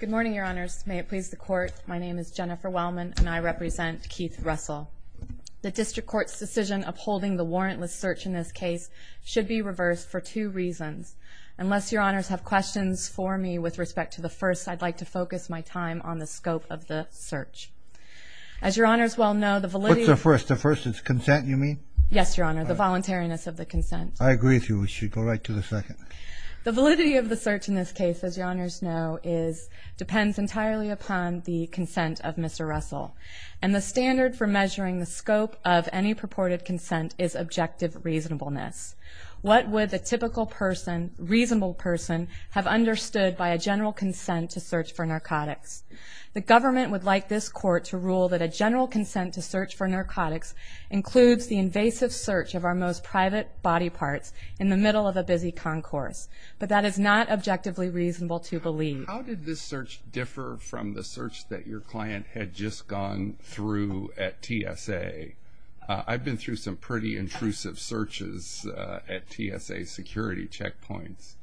Good morning, Your Honors. May it please the Court, my name is Jennifer Wellman and I represent Keith Russell. The District Court's decision of holding the warrantless search in this case should be reversed for two reasons. Unless Your Honors have questions for me with respect to the first, I'd like to focus my time on the scope of the search. As Your Honors well know, the validity... What's the first? The first is consent, you mean? Yes, Your Honor, the voluntariness of the consent. I agree with you. We should go right to the second. The validity of the search in this case, as Your Honors know, depends entirely upon the consent of Mr. Russell. And the standard for measuring the scope of any purported consent is objective reasonableness. What would the typical person, reasonable person, have understood by a general consent to search for narcotics? The government would like this Court to rule that a general consent to search for narcotics includes the invasive search of our most private body parts in the middle of a busy concourse. But that is not objectively reasonable to believe. How did this search differ from the search that your client had just gone through at TSA? I've been through some pretty intrusive searches at TSA security checkpoints.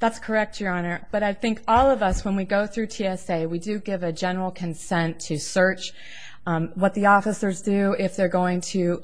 That's correct, Your Honor. But I think all of us, when we go through TSA, we do give a general consent to search. What the officers do, if they're going to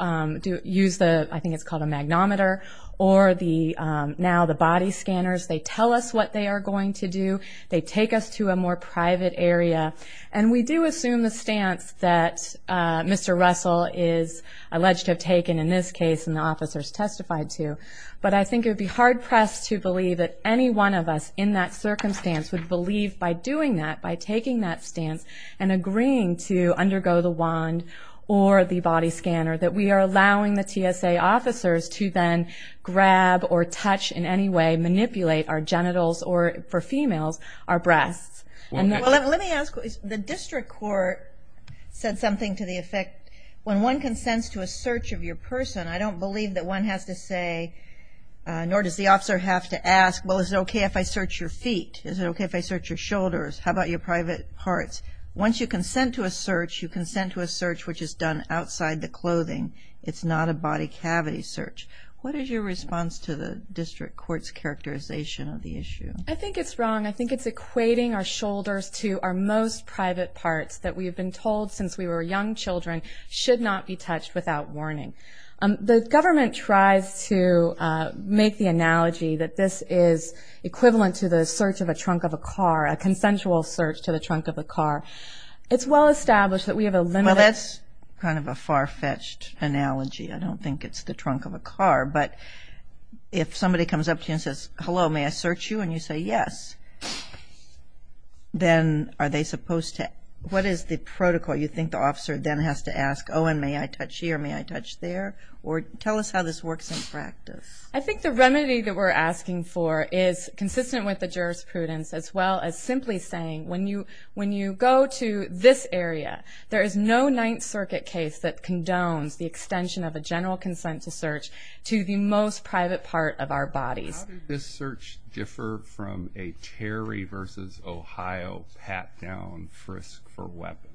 use, I think it's called a magnometer, or now the body scanners, they tell us what they are going to do. They take us to a more private area. And we do assume the stance that Mr. Russell is alleged to have taken in this case, and the officers testified to. But I think it would be hard-pressed to believe that any one of us in that circumstance would believe, by doing that, by taking that stance, and agreeing to undergo the wand or the body scanner, that we are allowing the TSA officers to then grab or touch in any way, manipulate our genitals, or for females, our breasts. Let me ask, the district court said something to the effect, when one consents to a search of your person, I don't believe that one has to say, nor does the officer have to ask, well is it okay if I search your feet? Is it okay if I search your shoulders? How about your private parts? Once you consent to a search, you consent to a search which is done outside the clothing. It's not a body cavity search. What is your response to the district court's characterization of the issue? I think it's wrong. I think it's equating our shoulders to our most private parts, that we have been told since we were young children, should not be touched without warning. The government tries to make the analogy that this is equivalent to the search of a trunk of a car, a consensual search to the trunk of a car. It's well established that we have a limited... Well, that's kind of a far-fetched analogy. I don't think it's the trunk of a car. But if somebody comes up to you and says, hello, may I search you? And you say yes, then are they supposed to, what is the protocol? You think the officer then has to ask, oh, and may I touch here, may I touch there? Or tell us how this works in practice. I think the remedy that we're asking for is consistent with the jurisprudence as well as simply saying when you go to this area, there is no Ninth Circuit case that condones the extension of a general consensual search to the most private part of our bodies. How does this search differ from a Terry v. Ohio pat-down frisk for weapons?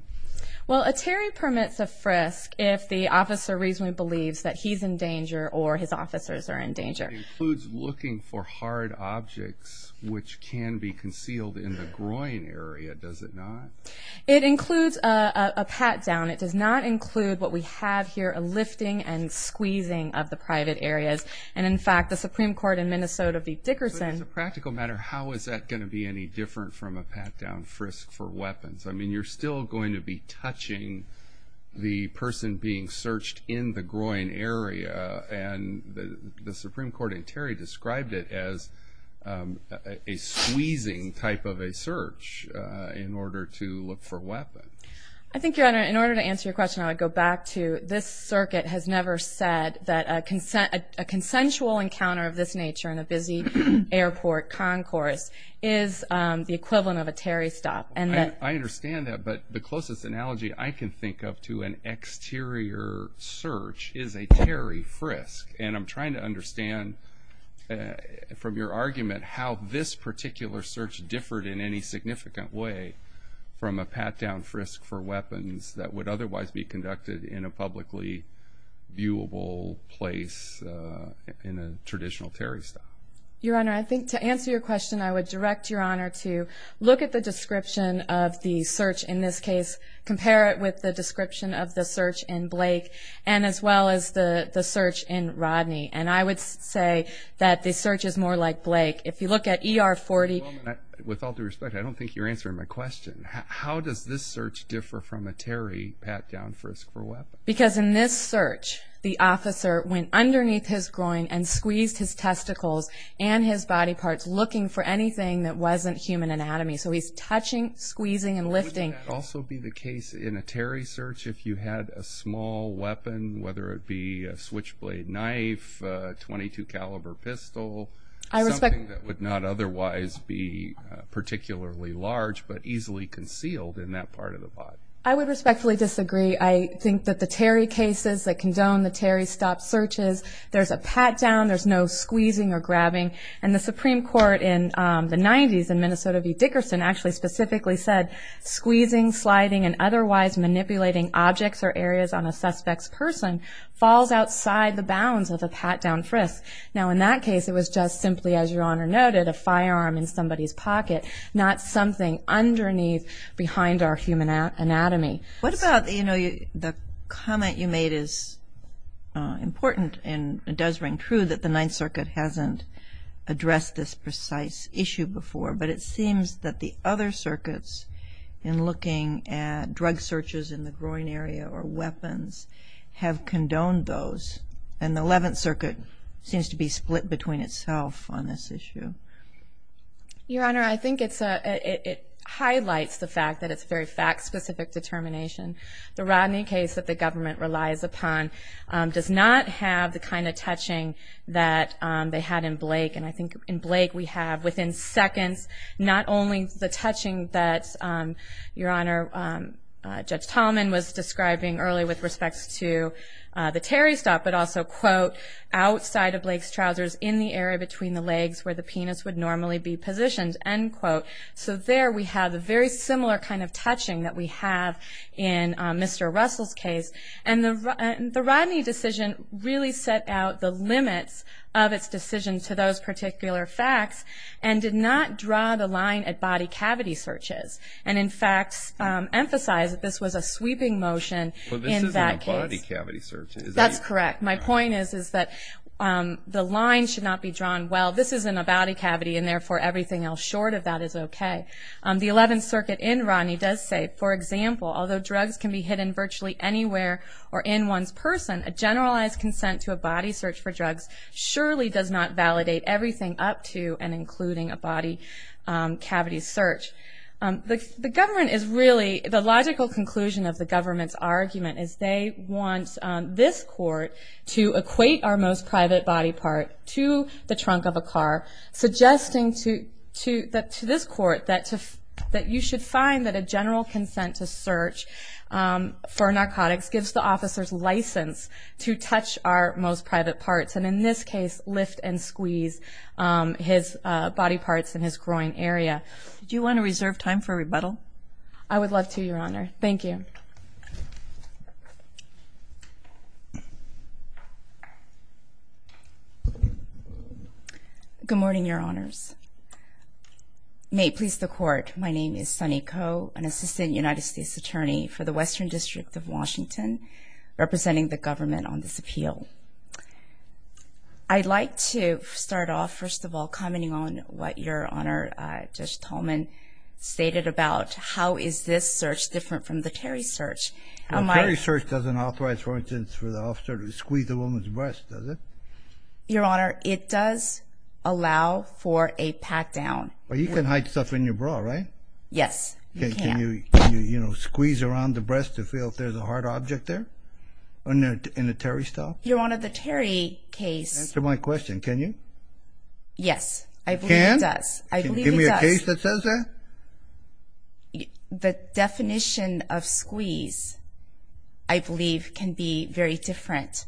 Well, a Terry permits a frisk if the officer reasonably believes that he's in danger or his officers are in danger. It includes looking for hard objects which can be concealed in the groin area, does it not? It includes a pat-down. It does not include what we have here, a lifting and squeezing of the private areas. And, in fact, the Supreme Court in Minnesota v. Dickerson. As a practical matter, how is that going to be any different from a pat-down frisk for weapons? I mean, you're still going to be touching the person being searched in the groin area, and the Supreme Court in Terry described it as a squeezing type of a search in order to look for weapons. I think, in order to answer your question, I would go back to this circuit has never said that a consensual encounter of this nature in a busy airport concourse is the equivalent of a Terry stop. I understand that, but the closest analogy I can think of to an exterior search is a Terry frisk. And I'm trying to understand from your argument how this particular search differed in any significant way from a pat-down frisk for weapons that would otherwise be conducted in a publicly viewable place in a traditional Terry stop. Your Honor, I think to answer your question, I would direct Your Honor to look at the description of the search in this case, compare it with the description of the search in Blake, and as well as the search in Rodney. And I would say that the search is more like Blake. With all due respect, I don't think you're answering my question. How does this search differ from a Terry pat-down frisk for weapons? Because in this search, the officer went underneath his groin and squeezed his testicles and his body parts, looking for anything that wasn't human anatomy. So he's touching, squeezing, and lifting. But wouldn't that also be the case in a Terry search if you had a small weapon, whether it be a switchblade knife, a .22 caliber pistol, something that would not otherwise be particularly large but easily concealed in that part of the body? I would respectfully disagree. I think that the Terry cases that condone the Terry stop searches, there's a pat-down, there's no squeezing or grabbing. And the Supreme Court in the 90s in Minnesota v. Dickerson actually specifically said, squeezing, sliding, and otherwise manipulating objects or areas on a suspect's person falls outside the bounds of a pat-down frisk. Now, in that case, it was just simply, as Your Honor noted, a firearm in somebody's pocket, not something underneath behind our human anatomy. What about, you know, the comment you made is important, and it does ring true that the Ninth Circuit hasn't addressed this precise issue before. But it seems that the other circuits in looking at drug searches in the groin area or weapons have condoned those. And the Eleventh Circuit seems to be split between itself on this issue. Your Honor, I think it highlights the fact that it's a very fact-specific determination. The Rodney case that the government relies upon does not have the kind of touching that they had in Blake. And I think in Blake we have, within seconds, not only the touching that Your Honor, Judge Tallman, was describing earlier with respect to the Terry stop, but also, quote, outside of Blake's trousers in the area between the legs where the penis would normally be positioned, end quote. So there we have a very similar kind of touching that we have in Mr. Russell's case. And the Rodney decision really set out the limits of its decision to those particular facts and did not draw the line at body cavity searches. And, in fact, emphasized that this was a sweeping motion in that case. But this isn't a body cavity search. That's correct. My point is that the line should not be drawn, well, this isn't a body cavity, and therefore everything else short of that is okay. The Eleventh Circuit in Rodney does say, for example, although drugs can be hidden virtually anywhere or in one's person, a generalized consent to a body search for drugs surely does not validate everything up to and including a body cavity search. The government is really, the logical conclusion of the government's argument is they want this court to equate our most private body part to the trunk of a car, suggesting to this court that you should find that a general consent to search for narcotics gives the officer's license to touch our most private parts, and in this case lift and squeeze his body parts in his groin area. Do you want to reserve time for rebuttal? I would love to, Your Honor. Thank you. Good morning, Your Honors. May it please the Court, my name is Sunny Koh, an Assistant United States Attorney for the Western District of Washington, representing the government on this appeal. I'd like to start off, first of all, commenting on what Your Honor, Judge Tolman, A terry search doesn't authorize, for instance, for the officer to squeeze a woman's breast, does it? Your Honor, it does allow for a pat-down. But you can hide stuff in your bra, right? Yes, you can. Can you, you know, squeeze around the breast to feel if there's a hard object there in a terry style? Your Honor, the terry case. Answer my question, can you? Yes, I believe it does. Can? Can you give me a case that says that? Your Honor, the definition of squeeze, I believe, can be very different.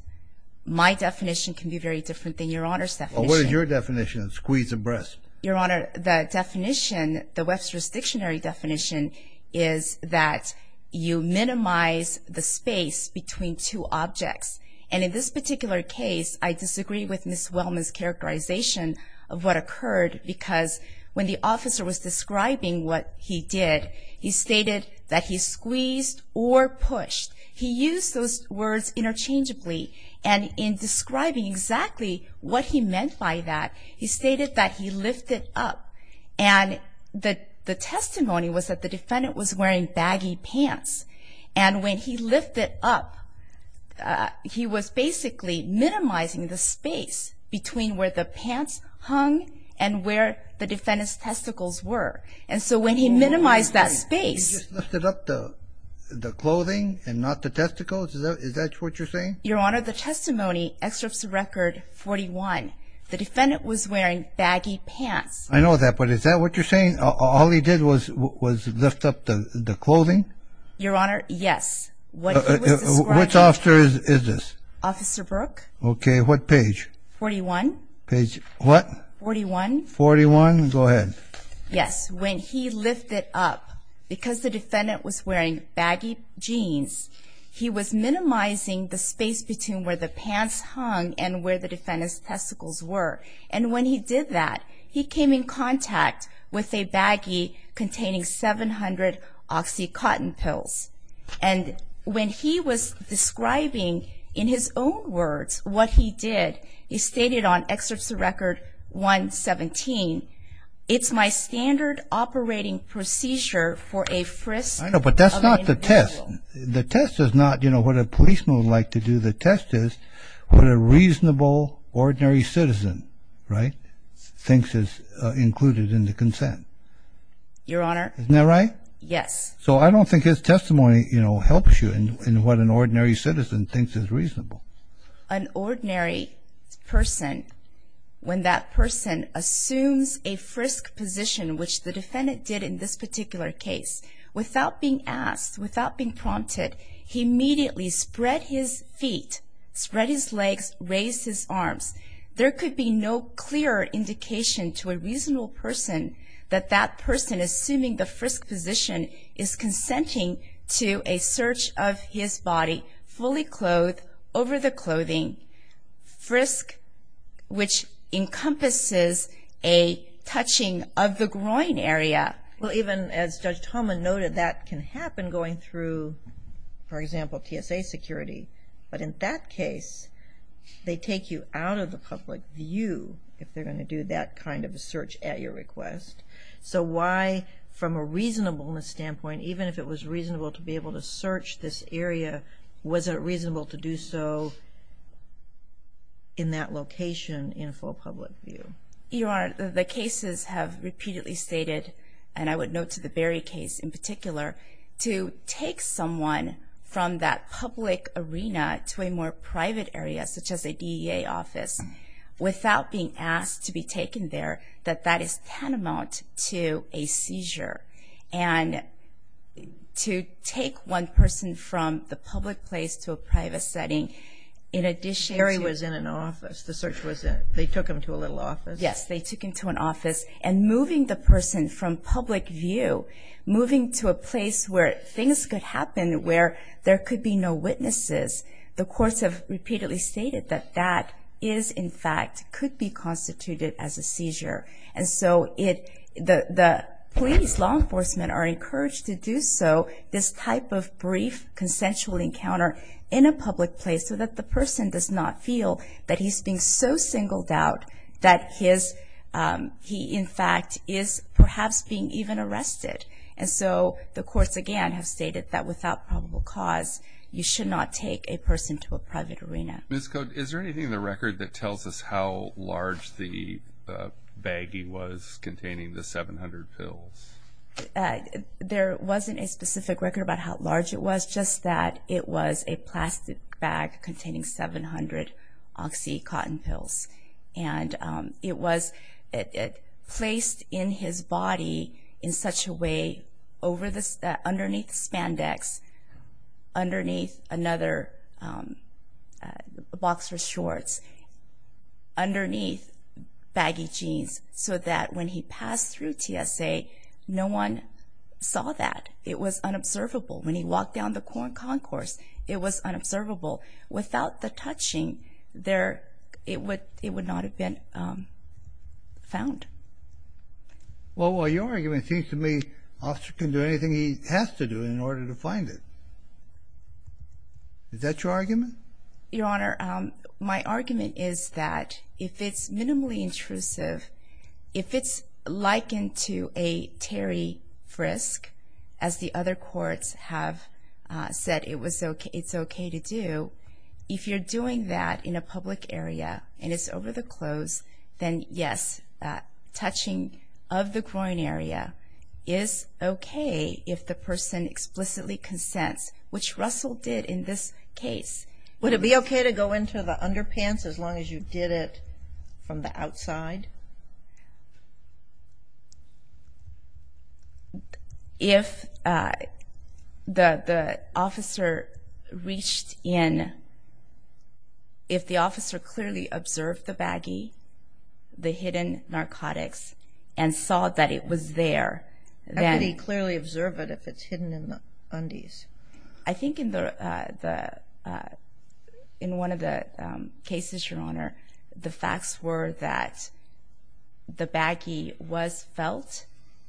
My definition can be very different than Your Honor's definition. What is your definition of squeeze of breast? Your Honor, the definition, the Webster's Dictionary definition, is that you minimize the space between two objects. And in this particular case, I disagree with Ms. Wellman's characterization of what occurred, because when the officer was describing what he did, he stated that he squeezed or pushed. He used those words interchangeably. And in describing exactly what he meant by that, he stated that he lifted up. And the testimony was that the defendant was wearing baggy pants. And when he lifted up, he was basically minimizing the space between where the pants hung and where the defendant's testicles were. And so when he minimized that space. He just lifted up the clothing and not the testicles? Is that what you're saying? Your Honor, the testimony excerpts record 41. The defendant was wearing baggy pants. I know that, but is that what you're saying? All he did was lift up the clothing? Your Honor, yes. Which officer is this? Officer Brooke. Okay, what page? Page 41. What? 41. 41? Go ahead. Yes. When he lifted up, because the defendant was wearing baggy jeans, he was minimizing the space between where the pants hung and where the defendant's testicles were. And when he did that, he came in contact with a baggy containing 700 OxyContin pills. And when he was describing in his own words what he did, he stated on excerpts of record 117, it's my standard operating procedure for a frisk of an individual. I know, but that's not the test. The test is not, you know, what a policeman would like to do. The test is what a reasonable, ordinary citizen, right, thinks is included in the consent. Your Honor? Isn't that right? Yes. So I don't think his testimony, you know, helps you in what an ordinary citizen thinks is reasonable. An ordinary person, when that person assumes a frisk position, which the defendant did in this particular case, without being asked, without being prompted, he immediately spread his feet, spread his legs, raised his arms. There could be no clearer indication to a reasonable person that that person, assuming the frisk position, is consenting to a search of his body, fully clothed, over the clothing, frisk, which encompasses a touching of the groin area. Well, even as Judge Tomlin noted, that can happen going through, for example, TSA security. But in that case, they take you out of the public view, if they're going to do that kind of a search at your request. So why, from a reasonableness standpoint, even if it was reasonable to be able to search this area, was it reasonable to do so in that location in full public view? Your Honor, the cases have repeatedly stated, and I would note to the Berry case in particular, to take someone from that public arena to a more private area, such as a DEA office, without being asked to be taken there, that that is tantamount to a seizure. And to take one person from the public place to a private setting, in addition to your... Perry was in an office. The search was in an office. They took him to a little office. Yes, they took him to an office. And moving the person from public view, moving to a place where things could happen where there could be no witnesses, the courts have repeatedly stated that that is, in fact, could be constituted as a seizure. And so the police, law enforcement, are encouraged to do so, this type of brief consensual encounter in a public place, so that the person does not feel that he's being so singled out that he, in fact, is perhaps being even arrested. And so the courts, again, have stated that without probable cause, you should not take a person to a private arena. Ms. Cote, is there anything in the record that tells us how large the bag he was containing the 700 pills? There wasn't a specific record about how large it was, just that it was a plastic bag containing 700 OxyContin pills. And it was placed in his body in such a way, underneath the spandex, underneath another box for shorts, underneath baggy jeans, so that when he passed through TSA, no one saw that. It was unobservable. When he walked down the corn concourse, it was unobservable. Without the touching, it would not have been found. Well, your argument seems to me, Officer can do anything he has to do in order to find it. Is that your argument? Your Honor, my argument is that if it's minimally intrusive, if it's likened to a Terry frisk, as the other courts have said it's okay to do, if you're doing that in a public area, and it's over the clothes, then yes, touching of the groin area is okay if the person explicitly consents, which Russell did in this case. Would it be okay to go into the underpants as long as you did it from the outside? If the officer reached in, if the officer clearly observed the baggy, the hidden narcotics, and saw that it was there, then. How could he clearly observe it if it's hidden in the undies? I think in one of the cases, Your Honor, the facts were that the baggy was felt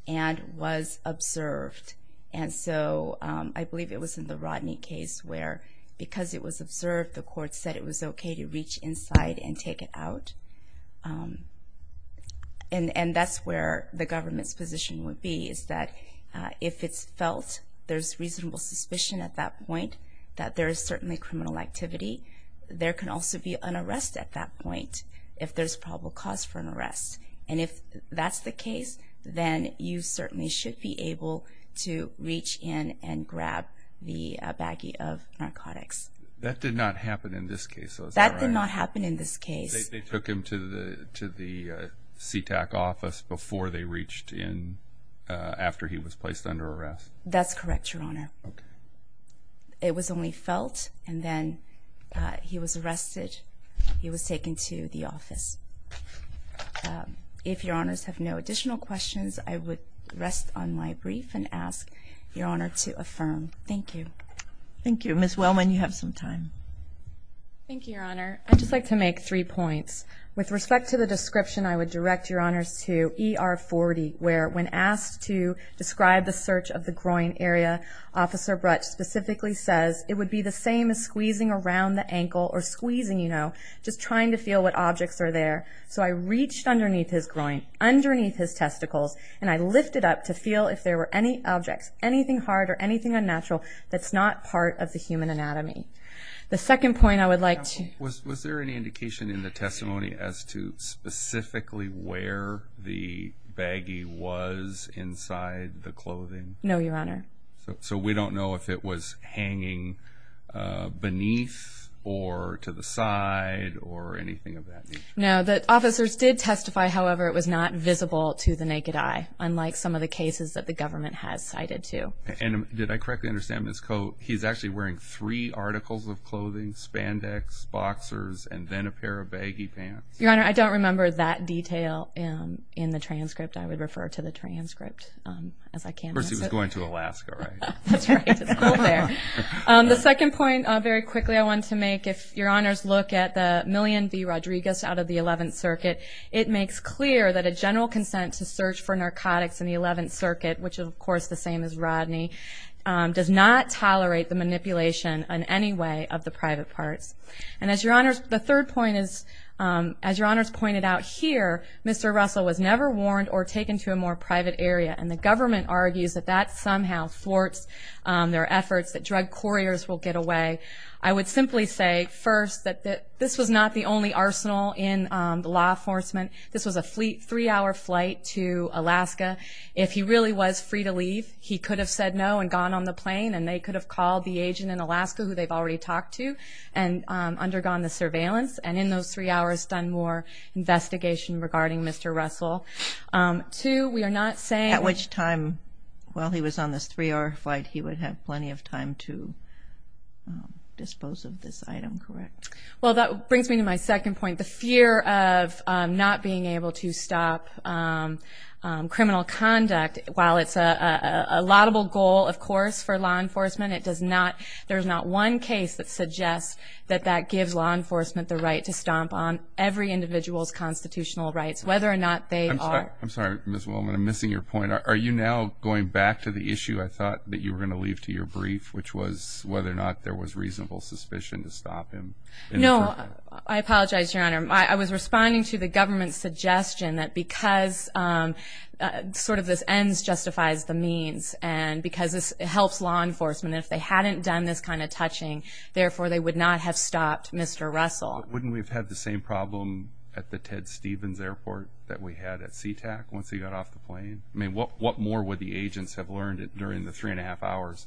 and was observed. And so I believe it was in the Rodney case where because it was observed, the court said it was okay to reach inside and take it out. And that's where the government's position would be, is that if it's felt there's reasonable suspicion at that point, that there is certainly criminal activity, there can also be an arrest at that point if there's probable cause for an arrest. And if that's the case, then you certainly should be able to reach in and grab the baggy of narcotics. That did not happen in this case, though, is that right? That did not happen in this case. They took him to the CTAC office before they reached in after he was placed under arrest? That's correct, Your Honor. Okay. It was only felt, and then he was arrested. He was taken to the office. If Your Honors have no additional questions, I would rest on my brief and ask Your Honor to affirm. Thank you. Thank you. Ms. Wellman, you have some time. Thank you, Your Honor. I'd just like to make three points. With respect to the description, I would direct Your Honors to ER 40, where when asked to describe the search of the groin area, Officer Brutsch specifically says it would be the same as squeezing around the ankle or squeezing, you know, just trying to feel what objects are there. So I reached underneath his groin, underneath his testicles, and I lifted up to feel if there were any objects, anything hard or anything unnatural, that's not part of the human anatomy. The second point I would like to... Was there any indication in the testimony as to specifically where the baggie was inside the clothing? No, Your Honor. So we don't know if it was hanging beneath or to the side or anything of that nature? No. The officers did testify, however, it was not visible to the naked eye, unlike some of the cases that the government has cited, too. And did I correctly understand, Ms. Cote, he's actually wearing three articles of clothing, spandex, boxers, and then a pair of baggy pants? Your Honor, I don't remember that detail in the transcript. I would refer to the transcript as I can. Of course, he was going to Alaska, right? That's right. It's cool there. The second point, very quickly I want to make, if Your Honors look at the Million V. Rodriguez out of the 11th Circuit, it makes clear that a general consent to search for narcotics in the 11th Circuit, which is, of course, the same as Rodney, does not tolerate the manipulation in any way of the private parts. And the third point is, as Your Honors pointed out here, Mr. Russell was never warned or taken to a more private area, and the government argues that that somehow thwarts their efforts, that drug couriers will get away. I would simply say, first, that this was not the only arsenal in law enforcement. This was a three-hour flight to Alaska. If he really was free to leave, he could have said no and gone on the plane, and they could have called the agent in Alaska, who they've already talked to, and undergone the surveillance and in those three hours done more investigation regarding Mr. Russell. Two, we are not saying at which time, while he was on this three-hour flight, he would have plenty of time to dispose of this item, correct? Well, that brings me to my second point, the fear of not being able to stop criminal conduct. While it's a laudable goal, of course, for law enforcement, there's not one case that suggests that that gives law enforcement the right to stomp on every individual's constitutional rights, whether or not they are. I'm sorry, Ms. Willman, I'm missing your point. Are you now going back to the issue I thought that you were going to leave to your brief, which was whether or not there was reasonable suspicion to stop him? No, I apologize, Your Honor. I was responding to the government's suggestion that because sort of this ends justifies the means and because this helps law enforcement. If they hadn't done this kind of touching, therefore, they would not have stopped Mr. Russell. Wouldn't we have had the same problem at the Ted Stevens Airport that we had at SeaTac once he got off the plane? I mean, what more would the agents have learned during the three-and-a-half hours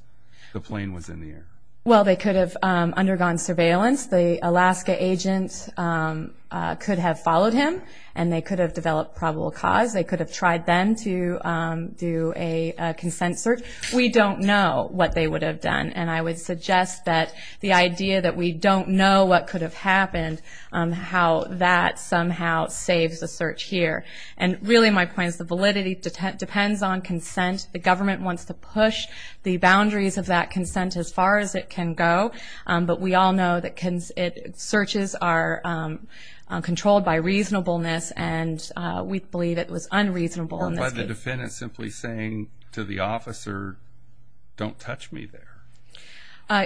the plane was in the air? Well, they could have undergone surveillance. The Alaska agents could have followed him, and they could have developed probable cause. They could have tried then to do a consent search. We don't know what they would have done, and I would suggest that the idea that we don't know what could have happened, how that somehow saves the search here. And really my point is the validity depends on consent. The government wants to push the boundaries of that consent as far as it can go, but we all know that searches are controlled by reasonableness, and we believe it was unreasonable in this case. Or by the defendant simply saying to the officer, don't touch me there.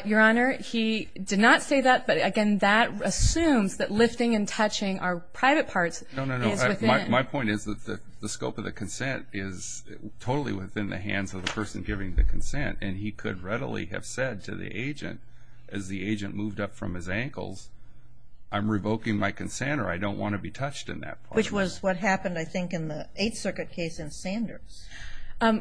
Your Honor, he did not say that, but, again, that assumes that lifting and touching are private parts. No, no, no. My point is that the scope of the consent is totally within the hands of the person giving the consent, and he could readily have said to the agent, as the agent moved up from his ankles, I'm revoking my consent or I don't want to be touched in that part. Which was what happened, I think, in the Eighth Circuit case in Sanders.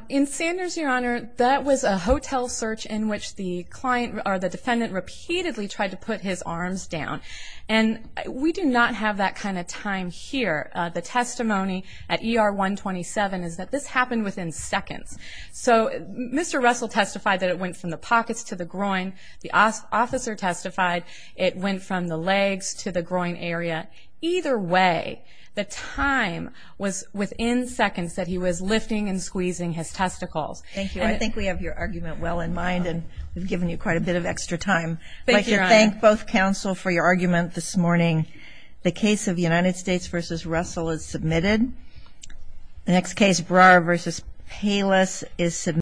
In Sanders, Your Honor, that was a hotel search in which the client or the defendant repeatedly tried to put his arms down, and we do not have that kind of time here. The testimony at ER 127 is that this happened within seconds. So Mr. Russell testified that it went from the pockets to the groin. The officer testified it went from the legs to the groin area. Either way, the time was within seconds that he was lifting and squeezing his testicles. Thank you. I think we have your argument well in mind, and we've given you quite a bit of extra time. Thank you, Your Honor. I'd like to thank both counsel for your argument this morning. The case of United States v. Russell is submitted. The next case, Breyer v. Palis, is submitted.